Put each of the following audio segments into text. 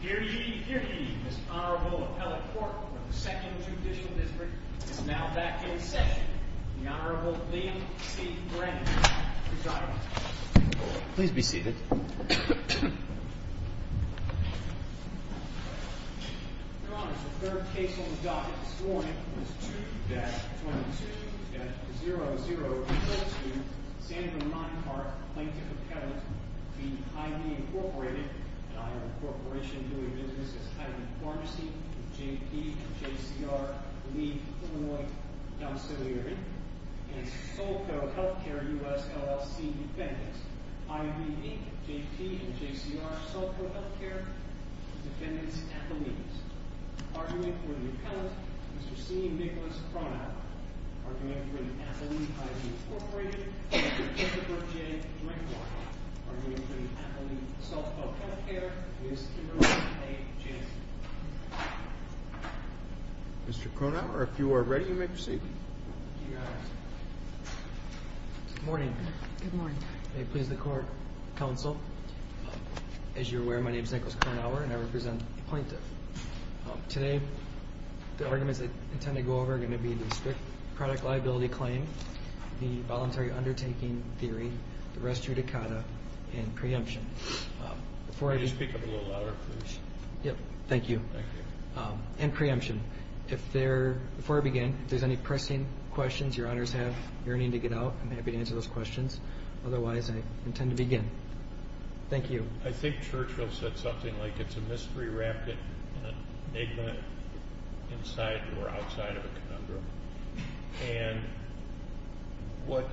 Here ye, here ye, Mr. Honorable Appellate Court of the 2nd Judicial District. It is now back in session. The Honorable Liam C. Brennan presiding. Please be seated. Your Honor, the third case on the docket this morning is 2-22-0042, Sandra Meinhart, Plaintiff Appellate v. Hy-Vee, Inc. and I am a corporation doing business as Hy-Vee Pharmacy with J.P. and J.C.R. Lee Humanoid Auxiliary and Solco Healthcare U.S. LLC Defendants, I.V.E., J.P. and J.C.R. Solco Healthcare Defendants Appellees. Argument for the Appellant, Mr. C. Nicholas Kronauer. Argument for the Appellee, Hy-Vee Corporation, Mr. Christopher J. Drinkwine. Argument for the Appellee, Solco Healthcare, Ms. Kimberly A. Jansen. Mr. Kronauer, if you are ready, you may proceed. Your Honor. Good morning. Good morning. May it please the Court, Counsel. As you are aware, my name is Nicholas Kronauer and I represent the Plaintiff. Today, the arguments I intend to go over are going to be the strict product liability claim, the voluntary undertaking theory, the res judicata, and preemption. Can you speak up a little louder, please? Yep. Thank you. Thank you. And preemption. Before I begin, if there's any pressing questions your Honors have yearning to get out, I'm happy to answer those questions. Otherwise, I intend to begin. Thank you. I think Churchill said something like it's a mystery wrapped in an enigma inside or outside of a conundrum. And what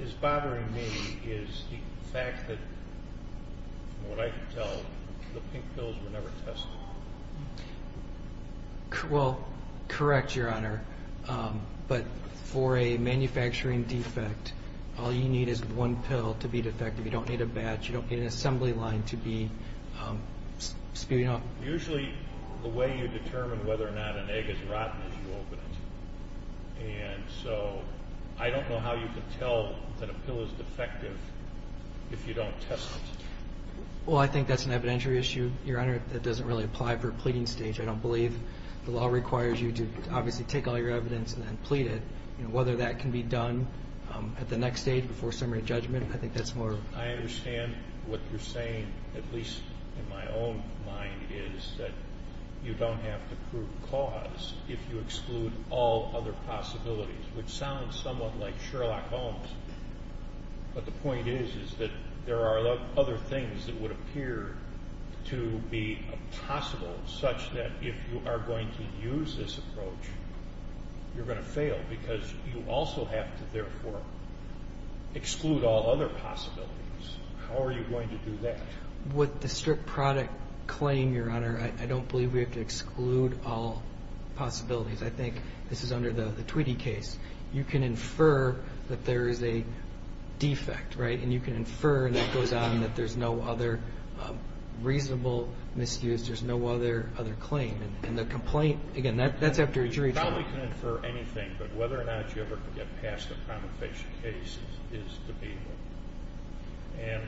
is bothering me is the fact that, from what I can tell, the pink pills were never tested. Well, correct, your Honor. But for a manufacturing defect, all you need is one pill to be defective. You don't need a batch. You don't need an assembly line to be spewing out. Usually the way you determine whether or not an egg is rotten is you open it. And so I don't know how you can tell that a pill is defective if you don't test it. Well, I think that's an evidentiary issue, your Honor, that doesn't really apply for a pleading stage. I don't believe the law requires you to obviously take all your evidence and then plead it. Whether that can be done at the next stage before summary judgment, I think that's more. I understand what you're saying, at least in my own mind, is that you don't have to prove the cause if you exclude all other possibilities, which sounds somewhat like Sherlock Holmes. But the point is that there are other things that would appear to be possible, such that if you are going to use this approach, you're going to fail because you also have to therefore exclude all other possibilities. How are you going to do that? With the strict product claim, your Honor, I don't believe we have to exclude all possibilities. I think this is under the Tweedy case. You can infer that there is a defect, right? And you can infer, and that goes on, that there's no other reasonable misuse. There's no other claim. And the complaint, again, that's after a jury trial. You probably can infer anything, but whether or not you ever get past the promulgation case is debatable. And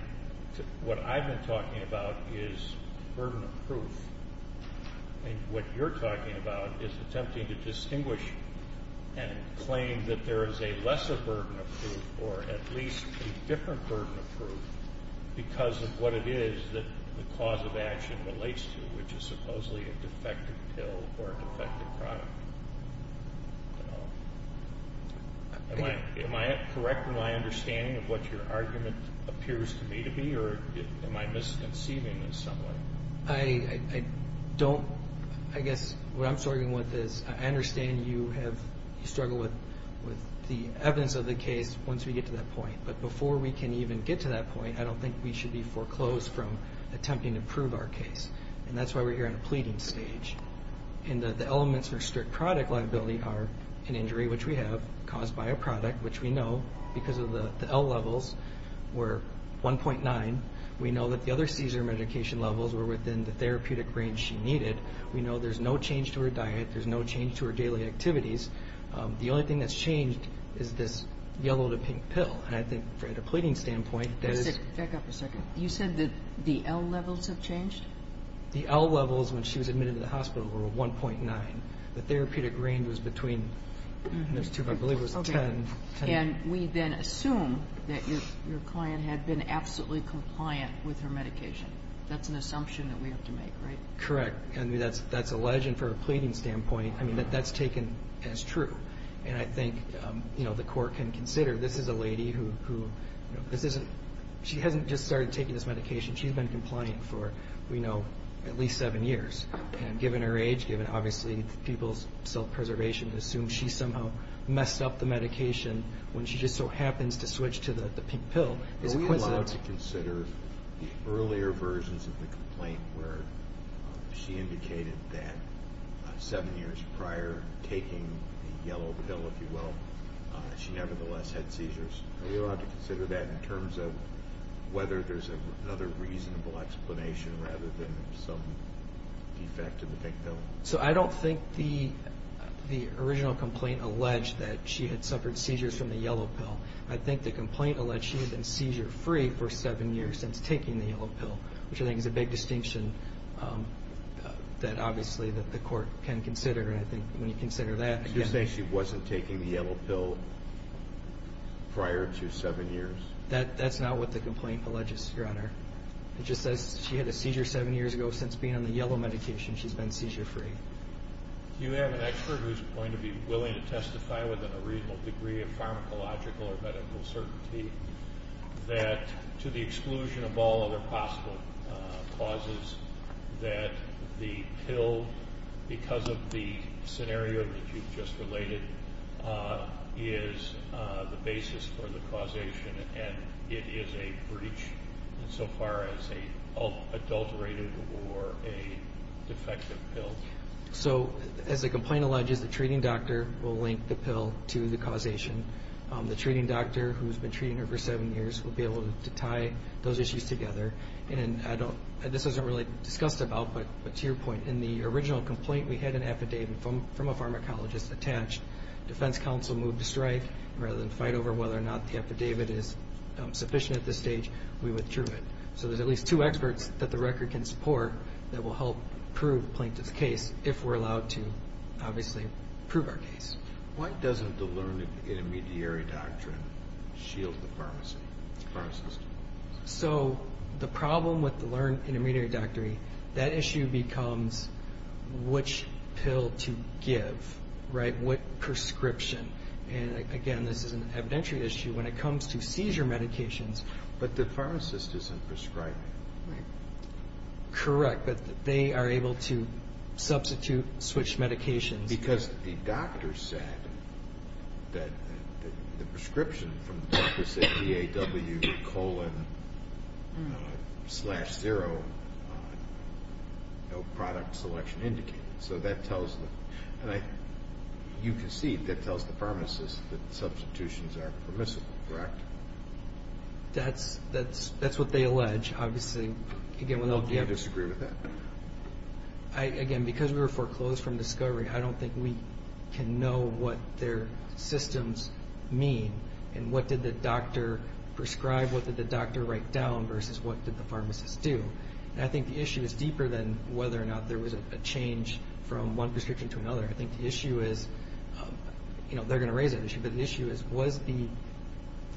what I've been talking about is burden of proof. And what you're talking about is attempting to distinguish and claim that there is a lesser burden of proof or at least a different burden of proof because of what it is that the cause of action relates to, which is supposedly a defective pill or a defective product. Am I correct in my understanding of what your argument appears to me to be, or am I misconceiving in some way? I don't. I guess what I'm struggling with is I understand you struggle with the evidence of the case once we get to that point. But before we can even get to that point, I don't think we should be foreclosed from attempting to prove our case. And that's why we're here on a pleading stage. And the elements for strict product liability are an injury, which we have, caused by a product, which we know, because of the L levels, were 1.9. We know that the other seizure medication levels were within the therapeutic range she needed. We know there's no change to her diet. There's no change to her daily activities. The only thing that's changed is this yellow-to-pink pill. And I think at a pleading standpoint, that is. Back up a second. You said that the L levels have changed? The L levels when she was admitted to the hospital were 1.9. The therapeutic range was between, I believe it was 10. And we then assume that your client had been absolutely compliant with her medication. That's an assumption that we have to make, right? Correct. And that's a legend from a pleading standpoint. I mean, that's taken as true. And I think the court can consider this is a lady who hasn't just started taking this medication. She's been compliant for, we know, at least seven years. And given her age, given obviously people's self-preservation, to assume she somehow messed up the medication when she just so happens to switch to the pink pill is a coincidence. Are you allowed to consider the earlier versions of the complaint where she indicated that seven years prior to taking the yellow pill, if you will, she nevertheless had seizures? Are you allowed to consider that in terms of whether there's another reasonable explanation rather than some defect in the pink pill? So I don't think the original complaint alleged that she had suffered seizures from the yellow pill. I think the complaint alleged she had been seizure-free for seven years since taking the yellow pill, which I think is a big distinction that obviously the court can consider. And I think when you consider that, again... So you're saying she wasn't taking the yellow pill prior to seven years? That's not what the complaint alleges, Your Honor. It just says she had a seizure seven years ago since being on the yellow medication. She's been seizure-free. You have an expert who's going to be willing to testify with a reasonable degree of pharmacological or medical certainty that to the exclusion of all other possible causes, that the pill, because of the scenario that you've just related, is the basis for the causation and it is a breach insofar as an adulterated or a defective pill. So as the complaint alleges, the treating doctor will link the pill to the causation. The treating doctor who's been treating her for seven years will be able to tie those issues together. And this isn't really discussed about, but to your point, in the original complaint we had an affidavit from a pharmacologist attached. Defense counsel moved to strike. Rather than fight over whether or not the affidavit is sufficient at this stage, we withdrew it. So there's at least two experts that the record can support that will help prove the plaintiff's case if we're allowed to, obviously, prove our case. Why doesn't the learned intermediary doctrine shield the pharmacist? So the problem with the learned intermediary doctrine, that issue becomes which pill to give, right, what prescription. And, again, this is an evidentiary issue when it comes to seizure medications. But the pharmacist isn't prescribing, right? Correct, but they are able to substitute switched medications. Because the doctor said that the prescription from the doctor said DAW colon slash zero, no product selection indicated. So that tells the pharmacist that substitutions are permissible, correct? That's what they allege, obviously. I don't disagree with that. Again, because we were foreclosed from discovery, I don't think we can know what their systems mean and what did the doctor prescribe, what did the doctor write down, versus what did the pharmacist do. I think the issue is deeper than whether or not there was a change from one prescription to another. I think the issue is, you know, they're going to raise that issue, but the issue is was the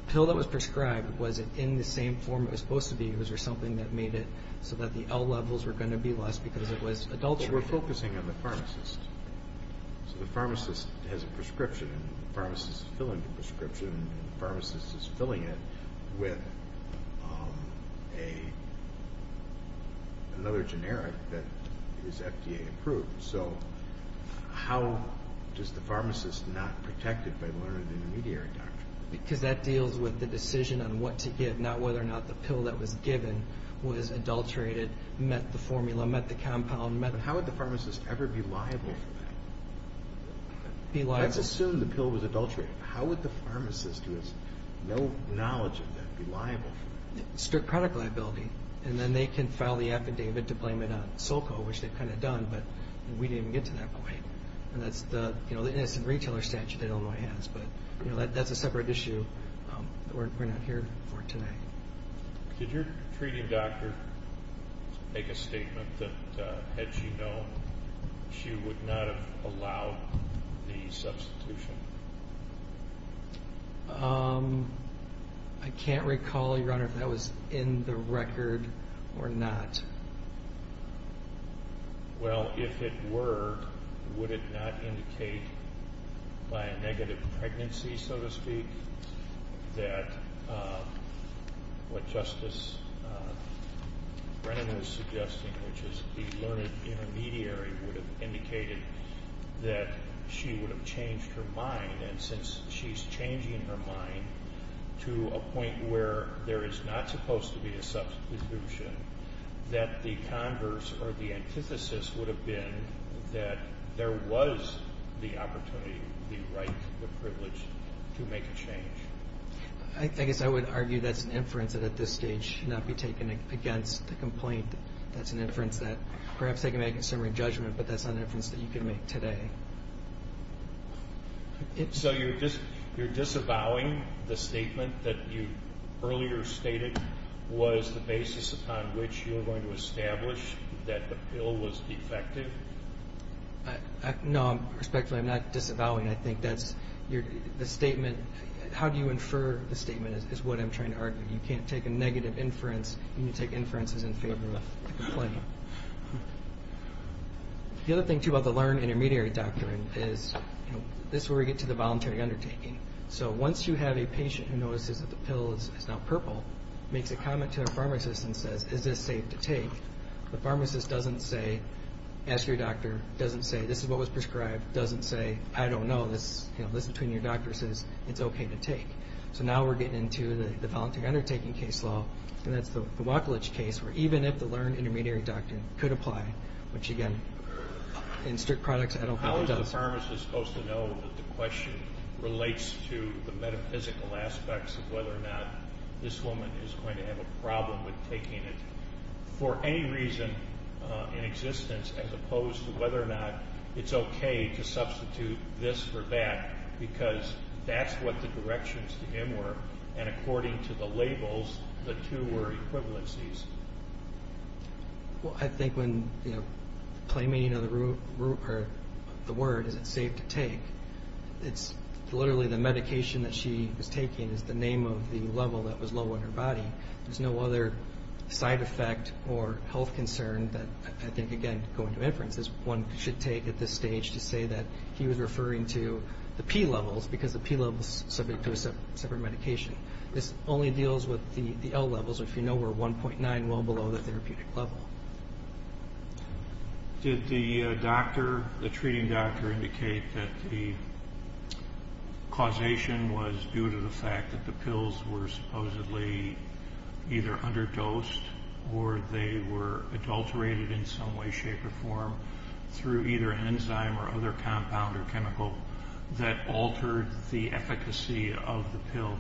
pill that was prescribed, was it in the same form it was supposed to be, or was there something that made it so that the L levels were going to be less because it was adulterated? Well, we're focusing on the pharmacist. So the pharmacist has a prescription, and the pharmacist is filling the prescription, and the pharmacist is filling it with another generic that is FDA approved. So how does the pharmacist not protect it by learning the intermediary doctrine? Because that deals with the decision on what to give, not whether or not the pill that was given was adulterated, met the formula, met the compound. How would the pharmacist ever be liable for that? Be liable? Let's assume the pill was adulterated. How would the pharmacist, who has no knowledge of that, be liable for that? Strict product liability, and then they can file the affidavit to blame it on SoCo, which they've kind of done, but we didn't get to that point. And that's the retailer statute that Illinois has, but that's a separate issue that we're not here for tonight. Did your treating doctor make a statement that had she known, she would not have allowed the substitution? I can't recall, Your Honor, if that was in the record or not. Well, if it were, would it not indicate by a negative pregnancy, so to speak, that what Justice Brennan was suggesting, which is the learned intermediary, would have indicated that she would have changed her mind, and since she's changing her mind to a point where there is not supposed to be a substitution, that the converse or the antithesis would have been that there was the opportunity, the right, the privilege to make a change. I guess I would argue that's an inference that at this stage should not be taken against the complaint. That's an inference that perhaps they can make in summary judgment, but that's not an inference that you can make today. So you're disavowing the statement that you earlier stated was the basis upon which you were going to establish that the pill was defective? No, respectfully, I'm not disavowing. I think that's the statement. How do you infer the statement is what I'm trying to argue. You can't take a negative inference. You need to take inferences in favor of the complaint. The other thing, too, about the learned intermediary doctrine is, you know, this is where we get to the voluntary undertaking. So once you have a patient who notices that the pill is now purple, makes a comment to their pharmacist and says, is this safe to take, the pharmacist doesn't say, ask your doctor, doesn't say, this is what was prescribed, doesn't say, I don't know, this is between your doctors, it's okay to take. So now we're getting into the voluntary undertaking case law, and that's the Wacolich case where even if the learned intermediary doctrine could apply, which, again, in strict products, I don't think it does. How is the pharmacist supposed to know that the question relates to the metaphysical aspects of whether or not this woman is going to have a problem with taking it for any reason in existence as opposed to whether or not it's okay to substitute this for that because that's what the directions to him were, and according to the labels, the two were equivalencies. Well, I think when claiming the word is it safe to take, it's literally the medication that she was taking is the name of the level that was low on her body. There's no other side effect or health concern that I think, again, going to inference, is one should take at this stage to say that he was referring to the P levels because the P levels subject to a separate medication. This only deals with the L levels, which we know were 1.9, well below the therapeutic level. Did the doctor, the treating doctor, indicate that the causation was due to the fact that the pills were supposedly either underdosed or they were adulterated in some way, shape, or form through either an enzyme or other compound or chemical that altered the efficacy of the pill?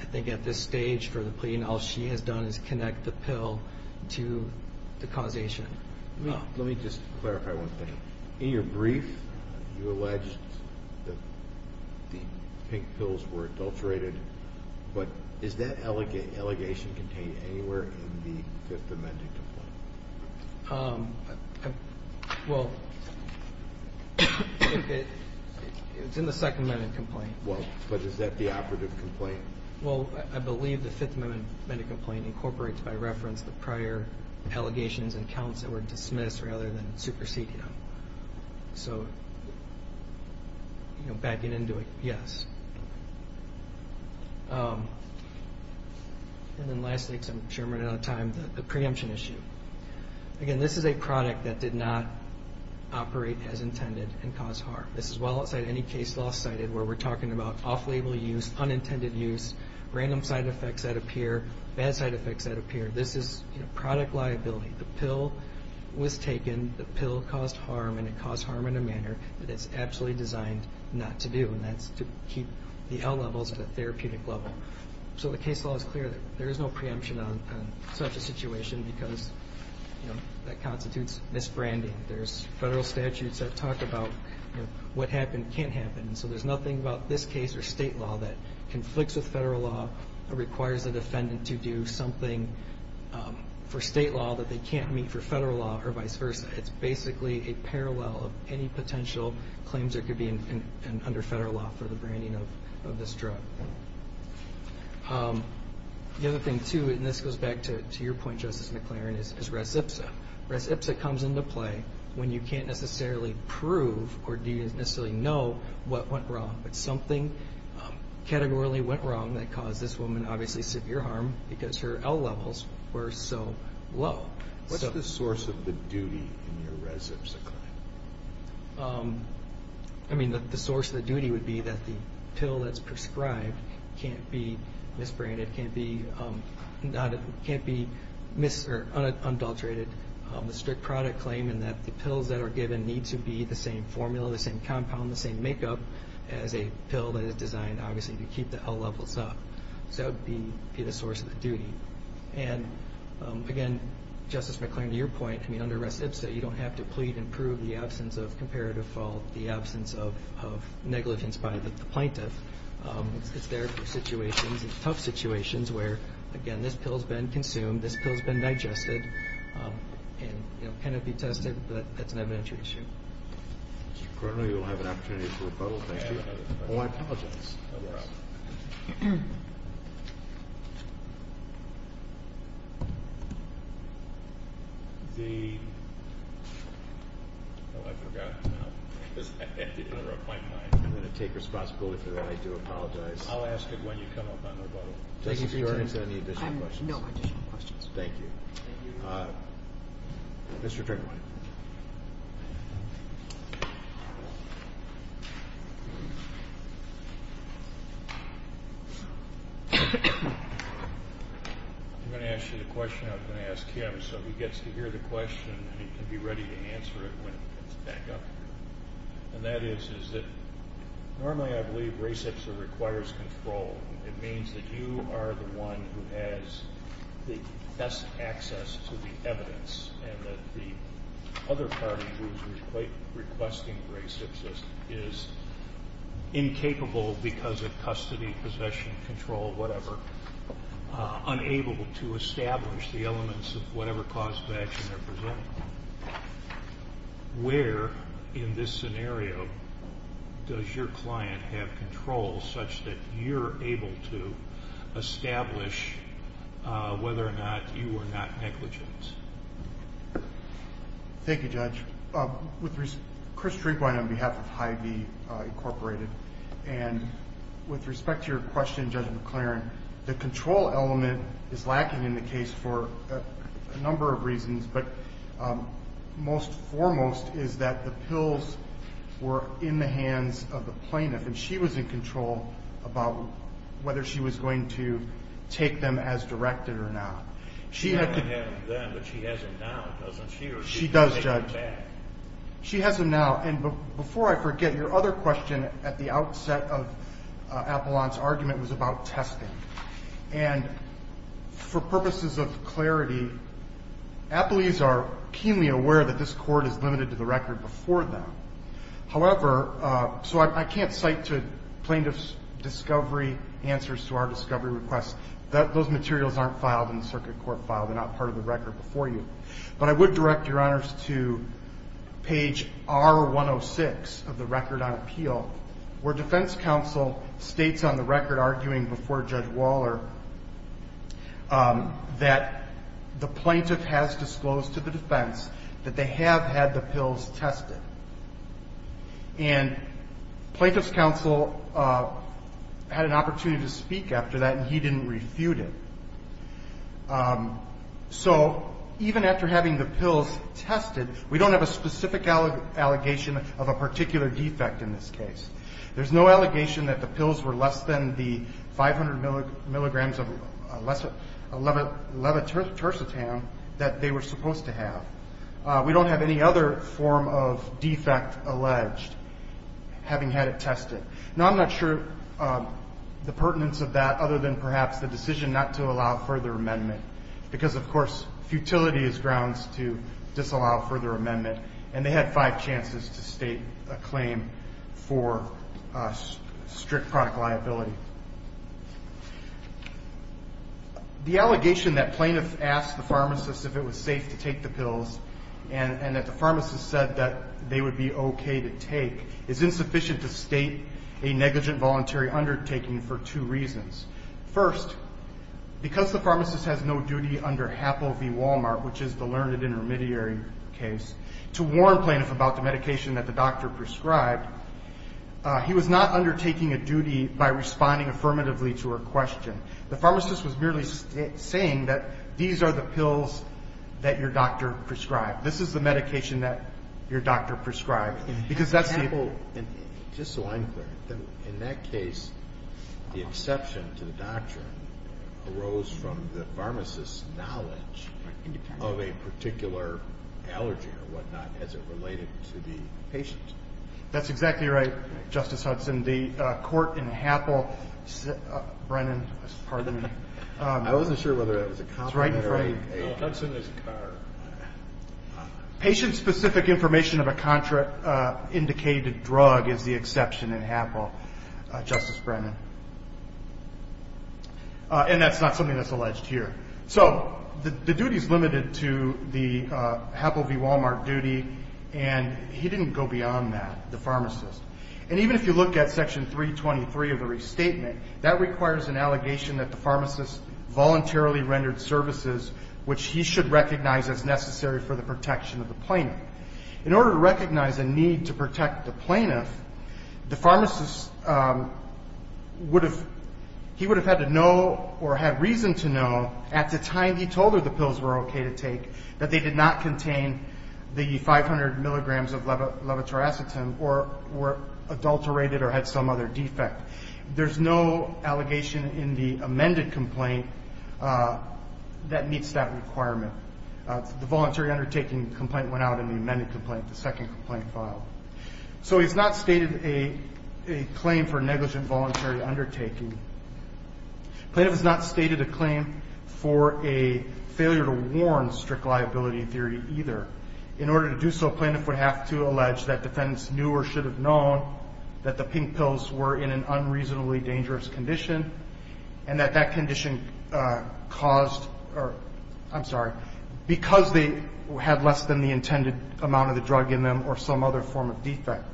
I think at this stage for the plea, all she has done is connect the pill to the causation. Let me just clarify one thing. In your brief, you alleged that the pink pills were adulterated, but is that allegation contained anywhere in the Fifth Amendment complaint? Well, it's in the Second Amendment complaint. Well, but is that the operative complaint? Well, I believe the Fifth Amendment complaint incorporates, by reference, the prior allegations and counts that were dismissed rather than superseded them. So, you know, backing into it, yes. And then lastly, because I'm sure I'm running out of time, the preemption issue. Again, this is a product that did not operate as intended and cause harm. This is well outside any case law cited where we're talking about off-label use, unintended use, random side effects that appear, bad side effects that appear. This is product liability. The pill was taken, the pill caused harm, and it caused harm in a manner that it's absolutely designed not to do, and that's to keep the L levels at a therapeutic level. So the case law is clear that there is no preemption on such a situation because that constitutes misbranding. There's federal statutes that talk about what happened can't happen, and so there's nothing about this case or state law that conflicts with federal law or requires a defendant to do something for state law that they can't meet for federal law or vice versa. It's basically a parallel of any potential claims that could be under federal law for the branding of this drug. The other thing, too, and this goes back to your point, Justice McLaren, is res ipsa. Res ipsa comes into play when you can't necessarily prove or do you necessarily know what went wrong, but something categorically went wrong that caused this woman, obviously, severe harm because her L levels were so low. What's the source of the duty in your res ipsa claim? I mean, the source of the duty would be that the pill that's prescribed can't be misbranded, can't be mis- or undulterated. The strict product claim in that the pills that are given need to be the same formula, the same compound, the same makeup as a pill that is designed, obviously, to keep the L levels up. So that would be the source of the duty. And, again, Justice McLaren, to your point, I mean, under res ipsa, you don't have to plead and prove the absence of comparative fault, the absence of negligence by the plaintiff. It's there for situations, tough situations, where, again, this pill's been consumed, this pill's been digested, and, you know, can it be tested? But that's an evidentiary issue. Mr. Cronin, you'll have an opportunity for rebuttal. Thank you. Oh, I apologize. Oh, I forgot. I had to interrupt my time. I'm going to take responsibility for that. I do apologize. I'll ask it when you come up on rebuttal. Justice, do you already have any additional questions? I have no additional questions. Thank you. Thank you. Mr. Trickleman. I'm going to ask you the question I was going to ask Kim, so he gets to hear the question and he can be ready to answer it when he gets back up here. And that is, is that normally I believe res ipsa requires control. It means that you are the one who has the best access to the evidence and that the other party who's requesting res ipsa is incapable because of custody, possession, control, whatever, unable to establish the elements of whatever cause of action they're presenting. Where in this scenario does your client have control such that you're able to establish whether or not you are not negligent? Thank you, Judge. Chris Drinkwine on behalf of Hy-Vee Incorporated. And with respect to your question, Judge McLaren, the control element is lacking in the case for a number of reasons. But most foremost is that the pills were in the hands of the plaintiff, and she was in control about whether she was going to take them as directed or not. She had them then, but she hasn't now, doesn't she? She does, Judge. She has them now. And before I forget, your other question at the outset of Appellant's argument was about testing. And for purposes of clarity, appellees are keenly aware that this court is limited to the record before them. However, so I can't cite plaintiff's discovery answers to our discovery request. Those materials aren't filed in the circuit court file. They're not part of the record before you. But I would direct your honors to page R-106 of the record on appeal, where defense counsel states on the record, arguing before Judge Waller, that the plaintiff has disclosed to the defense that they have had the pills tested. And plaintiff's counsel had an opportunity to speak after that, and he didn't refute it. So even after having the pills tested, we don't have a specific allegation of a particular defect in this case. There's no allegation that the pills were less than the 500 milligrams of levitercitam that they were supposed to have. We don't have any other form of defect alleged, having had it tested. Now, I'm not sure the pertinence of that, other than perhaps the decision not to allow further amendment, because, of course, futility is grounds to disallow further amendment. And they had five chances to state a claim for strict product liability. The allegation that plaintiff asked the pharmacist if it was safe to take the pills and that the pharmacist said that they would be okay to take is insufficient to state a negligent voluntary undertaking for two reasons. First, because the pharmacist has no duty under HAPL v. Walmart, which is the learned intermediary case, to warn plaintiff about the medication that the doctor prescribed, he was not undertaking a duty by responding affirmatively to her question. The pharmacist was merely saying that these are the pills that your doctor prescribed. This is the medication that your doctor prescribed, because that's the ---- In HAPL, just so I'm clear, in that case, the exception to the doctrine arose from the pharmacist's knowledge of a particular allergy or whatnot as it related to the patient. That's exactly right, Justice Hudson. The court in HAPL ---- Brennan, pardon me. I wasn't sure whether that was a cop or a ---- It's right in front of you. Patient-specific information of a contraindicated drug is the exception in HAPL, Justice Brennan. And that's not something that's alleged here. So the duty is limited to the HAPL v. Walmart duty, and he didn't go beyond that, the pharmacist. And even if you look at Section 323 of the restatement, that requires an allegation that the pharmacist voluntarily rendered services, which he should recognize as necessary for the protection of the plaintiff. In order to recognize a need to protect the plaintiff, the pharmacist would have ---- he would have had to know or had reason to know at the time he told her the pills were okay to take that they did not contain the 500 milligrams of levotriacetam or were adulterated or had some other defect. There's no allegation in the amended complaint that meets that requirement. The voluntary undertaking complaint went out in the amended complaint, the second complaint filed. So it's not stated a claim for negligent voluntary undertaking. Plaintiff has not stated a claim for a failure to warn strict liability theory either. In order to do so, plaintiff would have to allege that defendants knew or should have known that the pink pills were in an unreasonably dangerous condition and that that condition caused or, I'm sorry, because they had less than the intended amount of the drug in them or some other form of defect.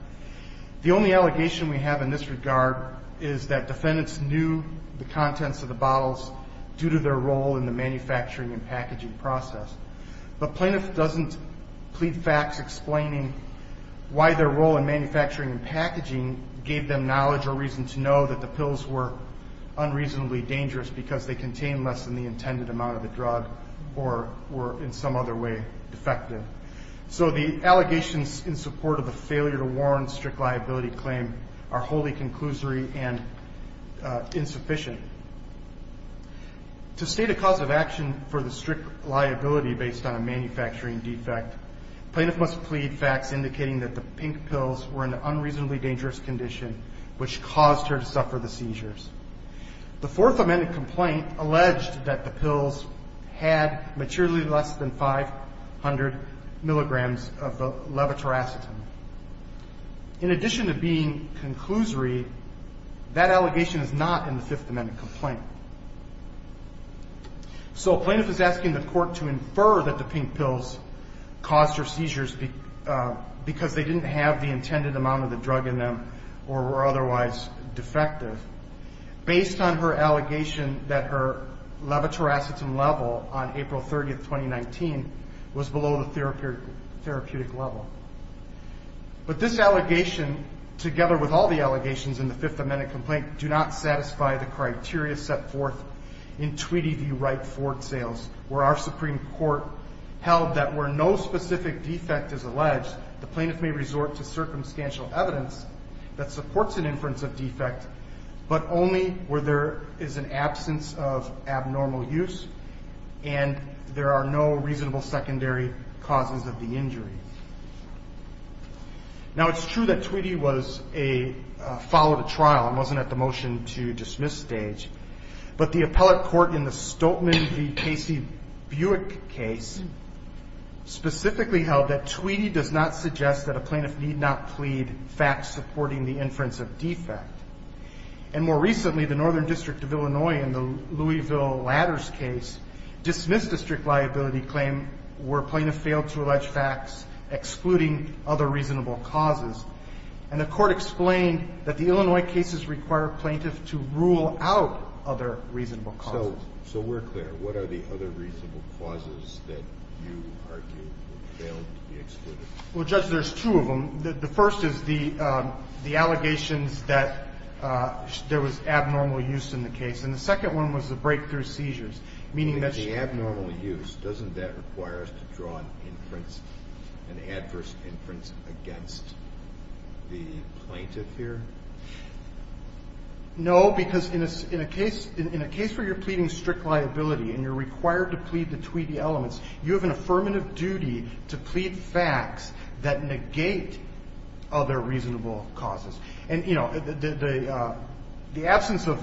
The only allegation we have in this regard is that defendants knew the contents of the bottles due to their role in the manufacturing and packaging process. But plaintiff doesn't plead facts explaining why their role in manufacturing and packaging gave them knowledge or reason to know that the pills were unreasonably dangerous because they contained less than the intended amount of the drug or were in some other way defective. So the allegations in support of the failure to warn strict liability claim are wholly conclusory and insufficient. To state a cause of action for the strict liability based on a manufacturing defect, plaintiff must plead facts indicating that the pink pills were in an unreasonably dangerous condition The Fourth Amendment complaint alleged that the pills had materially less than 500 milligrams of levotiracetam. In addition to being conclusory, that allegation is not in the Fifth Amendment complaint. So plaintiff is asking the court to infer that the pink pills caused her seizures because they didn't have the intended amount of the drug in them or were otherwise defective. Based on her allegation that her levotiracetam level on April 30th, 2019 was below the therapeutic level. But this allegation together with all the allegations in the Fifth Amendment complaint do not satisfy the criteria set forth in Treaty v. Wright-Ford sales where our Supreme Court held that where no specific defect is alleged, the plaintiff may resort to circumstantial evidence that supports an inference of defect but only where there is an absence of abnormal use and there are no reasonable secondary causes of the injury. Now it's true that Tweedy followed a trial and wasn't at the motion to dismiss stage but the appellate court in the Stoltman v. Casey-Buick case specifically held that Tweedy does not suggest that a plaintiff need not plead facts supporting the inference of defect. And more recently, the Northern District of Illinois in the Louisville Ladders case dismissed a strict liability claim where plaintiff failed to allege facts excluding other reasonable causes. And the court explained that the Illinois cases require plaintiff to rule out other reasonable causes. So we're clear. And what are the other reasonable causes that you argue failed to be excluded? Well, Judge, there's two of them. The first is the allegations that there was abnormal use in the case. And the second one was the breakthrough seizures, meaning that she... The abnormal use, doesn't that require us to draw an inference, an adverse inference against the plaintiff here? No, because in a case where you're pleading strict liability and you're required to plead the Tweedy elements, you have an affirmative duty to plead facts that negate other reasonable causes. And, you know, the absence of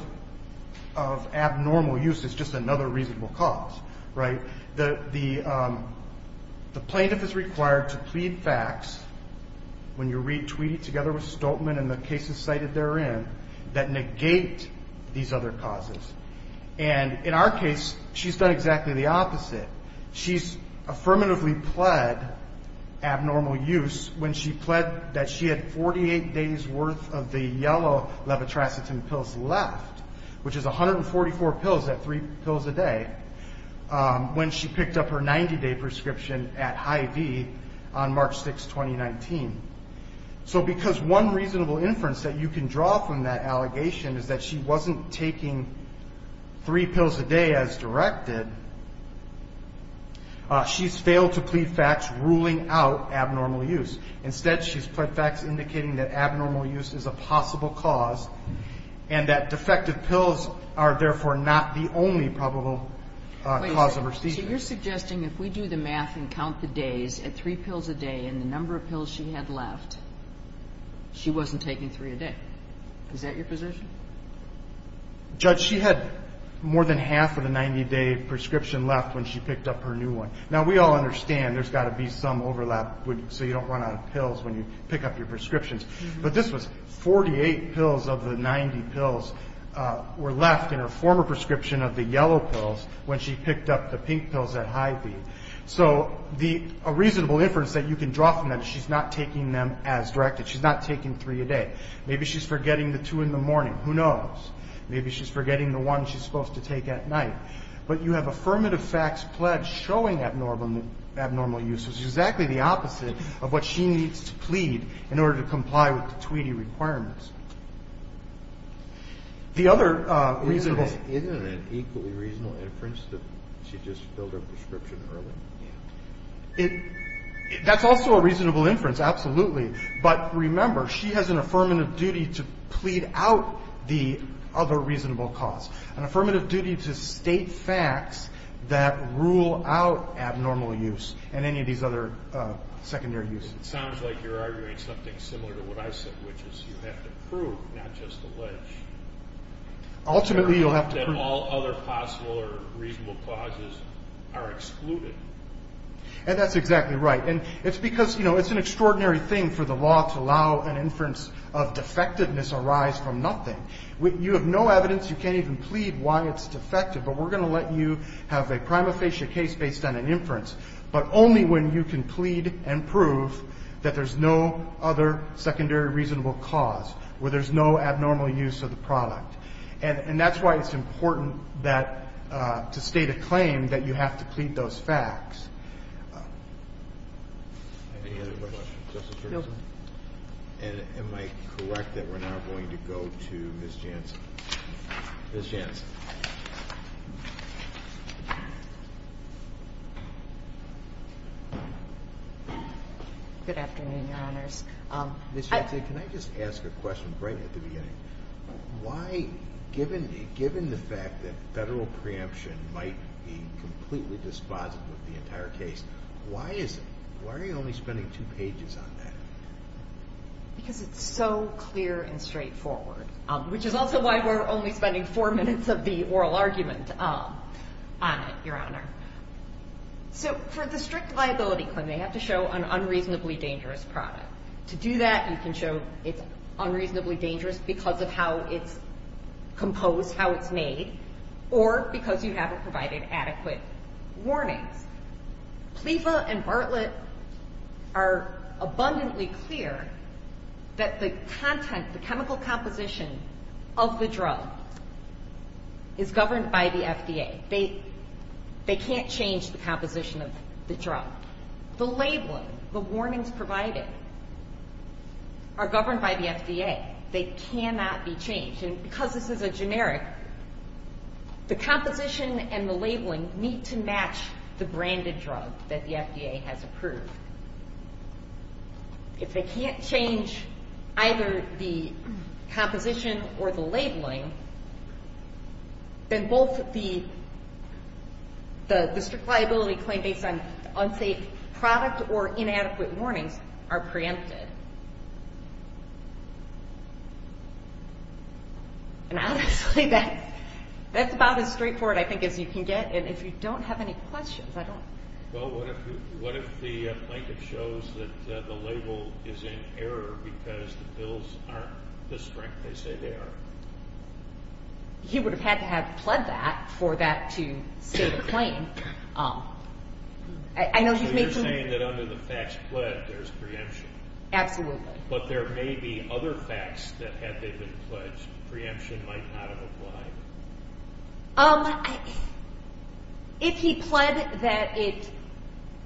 abnormal use is just another reasonable cause, right? The plaintiff is required to plead facts when you read Tweedy together with Stoltman and the cases cited therein that negate these other causes. And in our case, she's done exactly the opposite. She's affirmatively pled abnormal use when she pled that she had 48 days' worth of the yellow levotracetin pills left, which is 144 pills, that's three pills a day, when she picked up her 90-day prescription at Hy-Vee on March 6, 2019. So because one reasonable inference that you can draw from that allegation is that she wasn't taking three pills a day as directed, she's failed to plead facts ruling out abnormal use. Instead, she's pled facts indicating that abnormal use is a possible cause and that defective pills are therefore not the only probable cause of her seizure. So you're suggesting if we do the math and count the days at three pills a day and the number of pills she had left, she wasn't taking three a day. Is that your position? Judge, she had more than half of the 90-day prescription left when she picked up her new one. Now, we all understand there's got to be some overlap, so you don't run out of pills when you pick up your prescriptions. But this was 48 pills of the 90 pills were left in her former prescription of the yellow pills when she picked up the pink pills at Hy-Vee. So a reasonable inference that you can draw from that is she's not taking them as directed. She's not taking three a day. Maybe she's forgetting the two in the morning. Who knows? Maybe she's forgetting the one she's supposed to take at night. But you have affirmative facts pledged showing abnormal use was exactly the opposite of what she needs to plead in order to comply with the Tweedy requirements. Isn't it equally reasonable, for instance, that she just filled her prescription early? That's also a reasonable inference, absolutely. But remember, she has an affirmative duty to plead out the other reasonable cause, an affirmative duty to state facts that rule out abnormal use and any of these other secondary uses. It sounds like you're arguing something similar to what I said, which is you have to prove, not just allege. Ultimately, you'll have to prove. That all other possible or reasonable causes are excluded. And that's exactly right. It's because it's an extraordinary thing for the law to allow an inference of defectiveness arise from nothing. You have no evidence. You can't even plead why it's defective. But we're going to let you have a prima facie case based on an inference, but only when you can plead and prove that there's no other secondary reasonable cause, where there's no abnormal use of the product. And that's why it's important to state a claim that you have to plead those facts. Any other questions? No. And am I correct that we're now going to go to Ms. Jansen? Ms. Jansen. Good afternoon, Your Honors. Ms. Jansen, can I just ask a question right at the beginning? Why, given the fact that federal preemption might be completely dispositive of the entire case, why is it? Why are you only spending two pages on that? Because it's so clear and straightforward, which is also why we're only spending four minutes of the oral argument on it, Your Honor. So for the strict liability claim, they have to show an unreasonably dangerous product. To do that, you can show it's unreasonably dangerous because of how it's composed, how it's made, or because you haven't provided adequate warnings. PLEFA and Bartlett are abundantly clear that the content, the chemical composition of the drug is governed by the FDA. They can't change the composition of the drug. The labeling, the warnings provided, are governed by the FDA. They cannot be changed. And because this is a generic, the composition and the labeling need to match the branded drug that the FDA has approved. If they can't change either the composition or the labeling, then both the strict liability claim based on unsafe product or inadequate warnings are preempted. And honestly, that's about as straightforward, I think, as you can get. And if you don't have any questions, I don't. Well, what if the plaintiff shows that the label is in error because the pills aren't the strength they say they are? He would have had to have pled that for that to state a claim. So you're saying that under the facts pled, there's preemption? Absolutely. But there may be other facts that, had they been pledged, preemption might not have applied? If he pled that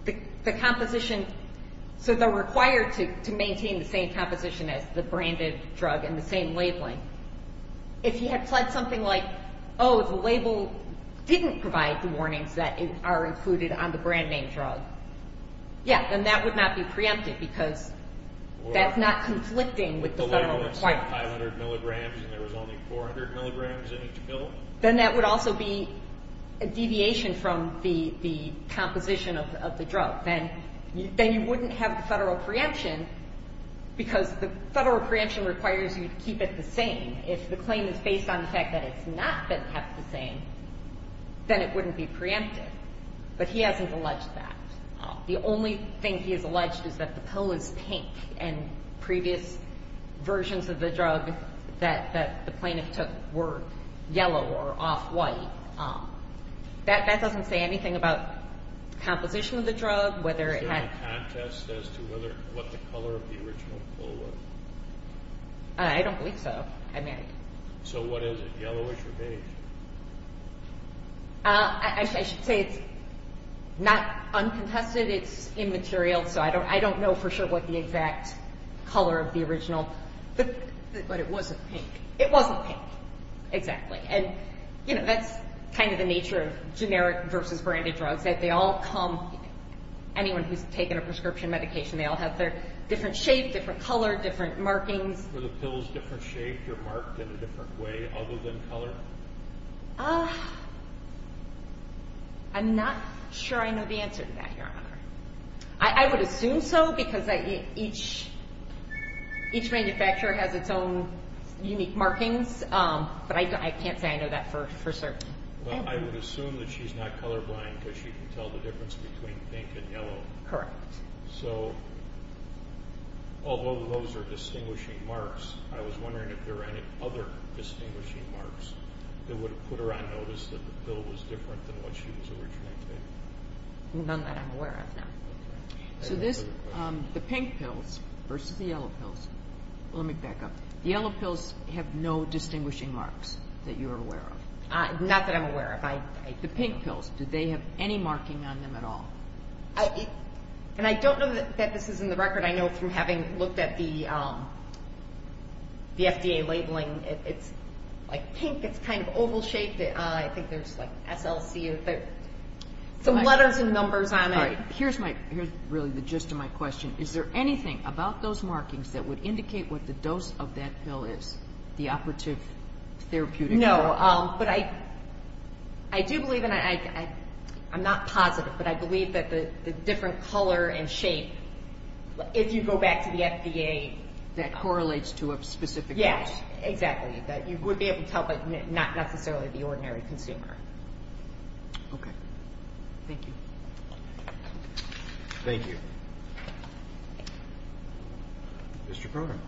the composition, so they're required to maintain the same composition as the branded drug and the same labeling, if he had pled something like, oh, the label didn't provide the warnings that are included on the brand name drug, yeah, then that would not be preempted because that's not conflicting with the federal requirement. The label said 500 milligrams and there was only 400 milligrams in each pill? Then that would also be a deviation from the composition of the drug. Then you wouldn't have the federal preemption because the federal preemption requires you to keep it the same. If the claim is based on the fact that it's not been kept the same, then it wouldn't be preempted. But he hasn't alleged that. The only thing he has alleged is that the pill is pink and previous versions of the drug that the plaintiff took were yellow or off-white. That doesn't say anything about the composition of the drug. Is there a contest as to what the color of the original pill was? I don't believe so. So what is it, yellowish or beige? I should say it's not uncontested. It's immaterial. So I don't know for sure what the exact color of the original, but it wasn't pink. It wasn't pink, exactly. That's kind of the nature of generic versus branded drugs. Anyone who's taken a prescription medication, they all have their different shape, different color, different markings. Were the pills different shaped or marked in a different way other than color? I'm not sure I know the answer to that, Your Honor. I would assume so because each manufacturer has its own unique markings, but I can't say I know that for certain. Well, I would assume that she's not colorblind because she can tell the difference between pink and yellow. Correct. So although those are distinguishing marks, I was wondering if there were any other distinguishing marks that would have put her on notice that the pill was different than what she was originally taking. None that I'm aware of, no. So this, the pink pills versus the yellow pills. Let me back up. The yellow pills have no distinguishing marks that you're aware of. Not that I'm aware of. The pink pills, do they have any marking on them at all? And I don't know that this is in the record. I know from having looked at the FDA labeling, it's like pink. It's kind of oval shaped. I think there's like SLC. There's some letters and numbers on it. All right. Here's really the gist of my question. Is there anything about those markings that would indicate what the dose of that pill is, the operative therapeutic? No. But I do believe, and I'm not positive, but I believe that the different color and shape, if you go back to the FDA. That correlates to a specific dose. Yes, exactly. That you would be able to tell, but not necessarily the ordinary consumer. Okay. Thank you. Thank you. Mr. Program.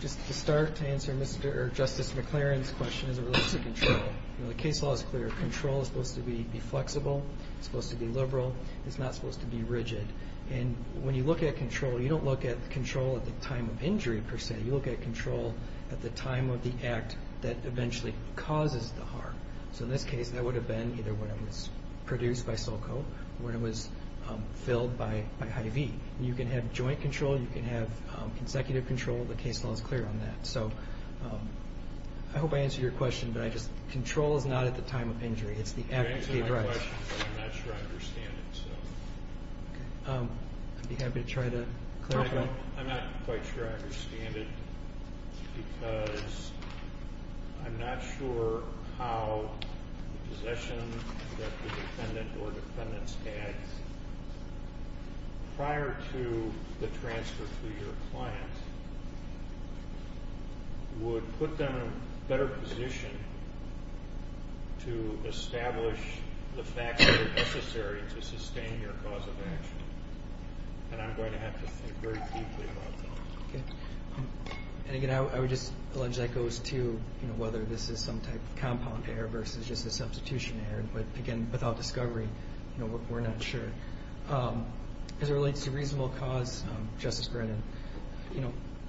Just to start to answer Justice McClaren's question as it relates to control. The case law is clear. Control is supposed to be flexible. It's supposed to be liberal. It's not supposed to be rigid. And when you look at control, you don't look at control at the time of injury per se. You look at control at the time of the act that eventually causes the harm. So in this case, that would have been either when it was produced by Sulco or when it was filled by Hy-Vee. You can have joint control. You can have consecutive control. The case law is clear on that. So I hope I answered your question, but control is not at the time of injury. It's the act of the drug. You answered my question, but I'm not sure I understand it. I'd be happy to try to clarify. I'm not quite sure I understand it because I'm not sure how the possession that the defendant or defendants had prior to the transfer to your client would put them in a better position to establish the facts that are necessary to sustain your cause of action. And I'm going to have to think very deeply about that. Okay. And, again, I would just allege that goes to whether this is some type of compound error versus just a substitution error. But, again, without discovery, we're not sure. As it relates to reasonable cause, Justice Brennan,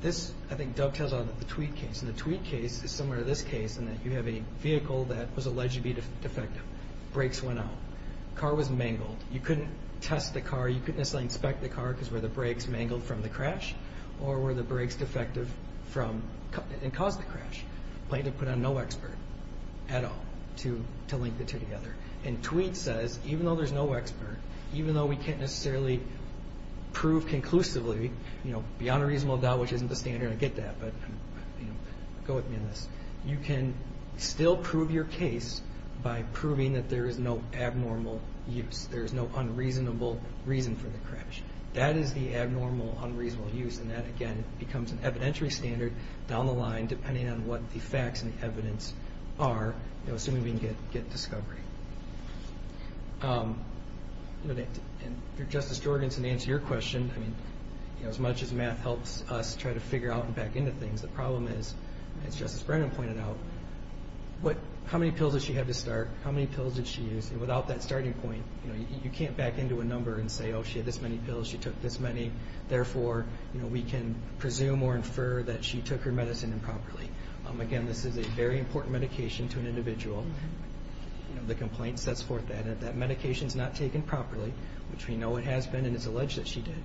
this, I think, dovetails on the Tweed case. And the Tweed case is similar to this case in that you have a vehicle that was alleged to be defective. Brakes went out. Car was mangled. You couldn't test the car. You couldn't necessarily inspect the car because the brakes mangled from the crash. Or were the brakes defective and caused the crash? Plaintiff put on no expert at all to link the two together. And Tweed says, even though there's no expert, even though we can't necessarily prove conclusively, beyond a reasonable doubt, which isn't the standard, I get that, but go with me on this, you can still prove your case by proving that there is no abnormal use. There is no unreasonable reason for the crash. That is the abnormal, unreasonable use. And that, again, becomes an evidentiary standard down the line, depending on what the facts and evidence are, assuming we can get discovery. Justice Jorgensen, to answer your question, as much as math helps us try to figure out and back into things, the problem is, as Justice Brennan pointed out, how many pills did she have to start? How many pills did she use? And without that starting point, you can't back into a number and say, oh, she had this many pills, she took this many, therefore we can presume or infer that she took her medicine improperly. Again, this is a very important medication to an individual. The complaint sets forth that. If that medication is not taken properly, which we know it has been and it's alleged that she did,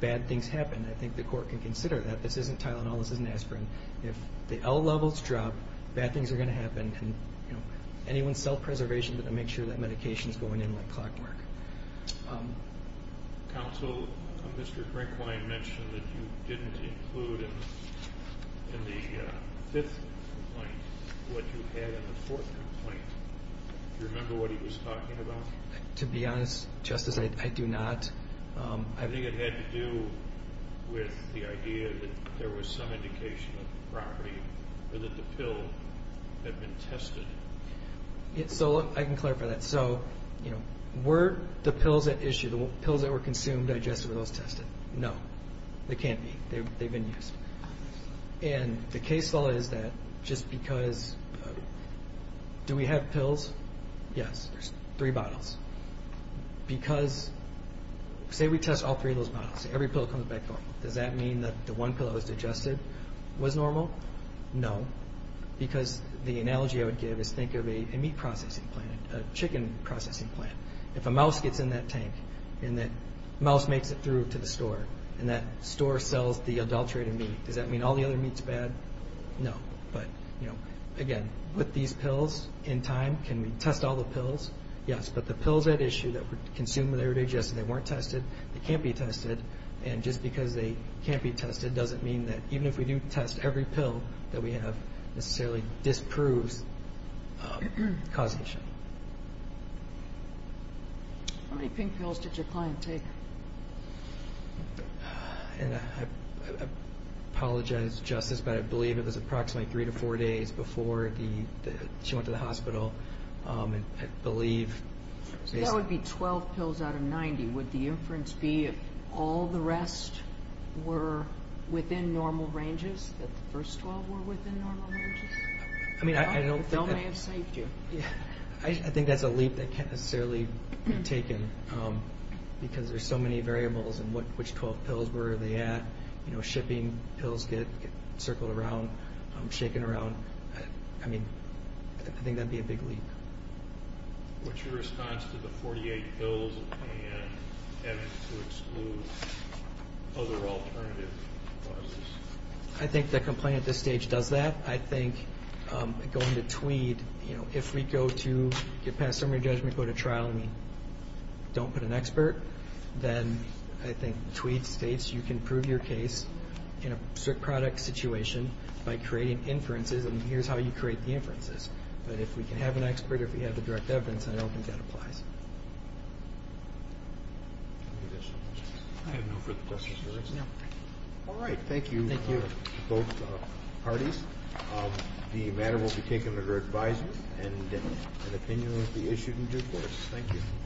bad things happen. I think the court can consider that. This isn't Tylenol, this isn't aspirin. If the L levels drop, bad things are going to happen. Anyone's self-preservation is going to make sure that medication is going in like clockwork. Counsel, Mr. Brinklein mentioned that you didn't include in the fifth complaint what you had in the fourth complaint. Do you remember what he was talking about? To be honest, Justice, I do not. I think it had to do with the idea that there was some indication of the property or that the pill had been tested. So I can clarify that. So were the pills that were consumed digested or those tested? No, they can't be. They've been used. And the case law is that just because do we have pills? Yes, there's three bottles. Because say we test all three of those bottles, every pill comes back normal. Does that mean that the one pill that was digested was normal? No, because the analogy I would give is think of a meat processing plant, a chicken processing plant. If a mouse gets in that tank and that mouse makes it through to the store and that store sells the adulterated meat, does that mean all the other meat's bad? No. But, you know, again, with these pills in time, can we test all the pills? Yes, but the pills at issue that were consumed, they were digested, they weren't tested. They can't be tested. And just because they can't be tested doesn't mean that even if we do test every pill that we have necessarily disproves causation. How many pink pills did your client take? I apologize, Justice, but I believe it was approximately three to four days before she went to the hospital. I believe. That would be 12 pills out of 90. Would the inference be if all the rest were within normal ranges, that the first 12 were within normal ranges? I mean, I don't think that's a leap that can't necessarily be taken because there's so many variables in which 12 pills, where are they at? You know, shipping pills get circled around, shaken around. I mean, I think that would be a big leap. What's your response to the 48 pills and having to exclude other alternative causes? I think the complaint at this stage does that. I think going to Tweed, you know, if we go to get past summary judgment, go to trial, and we don't put an expert, then I think Tweed states you can prove your case in a strict product situation by creating inferences, and here's how you create the inferences. But if we can have an expert or if we have the direct evidence, I don't think that applies. Any additional questions? I have no further questions. No. All right. Thank you to both parties. The matter will be taken under advisement, and an opinion will be issued in due course. Thank you.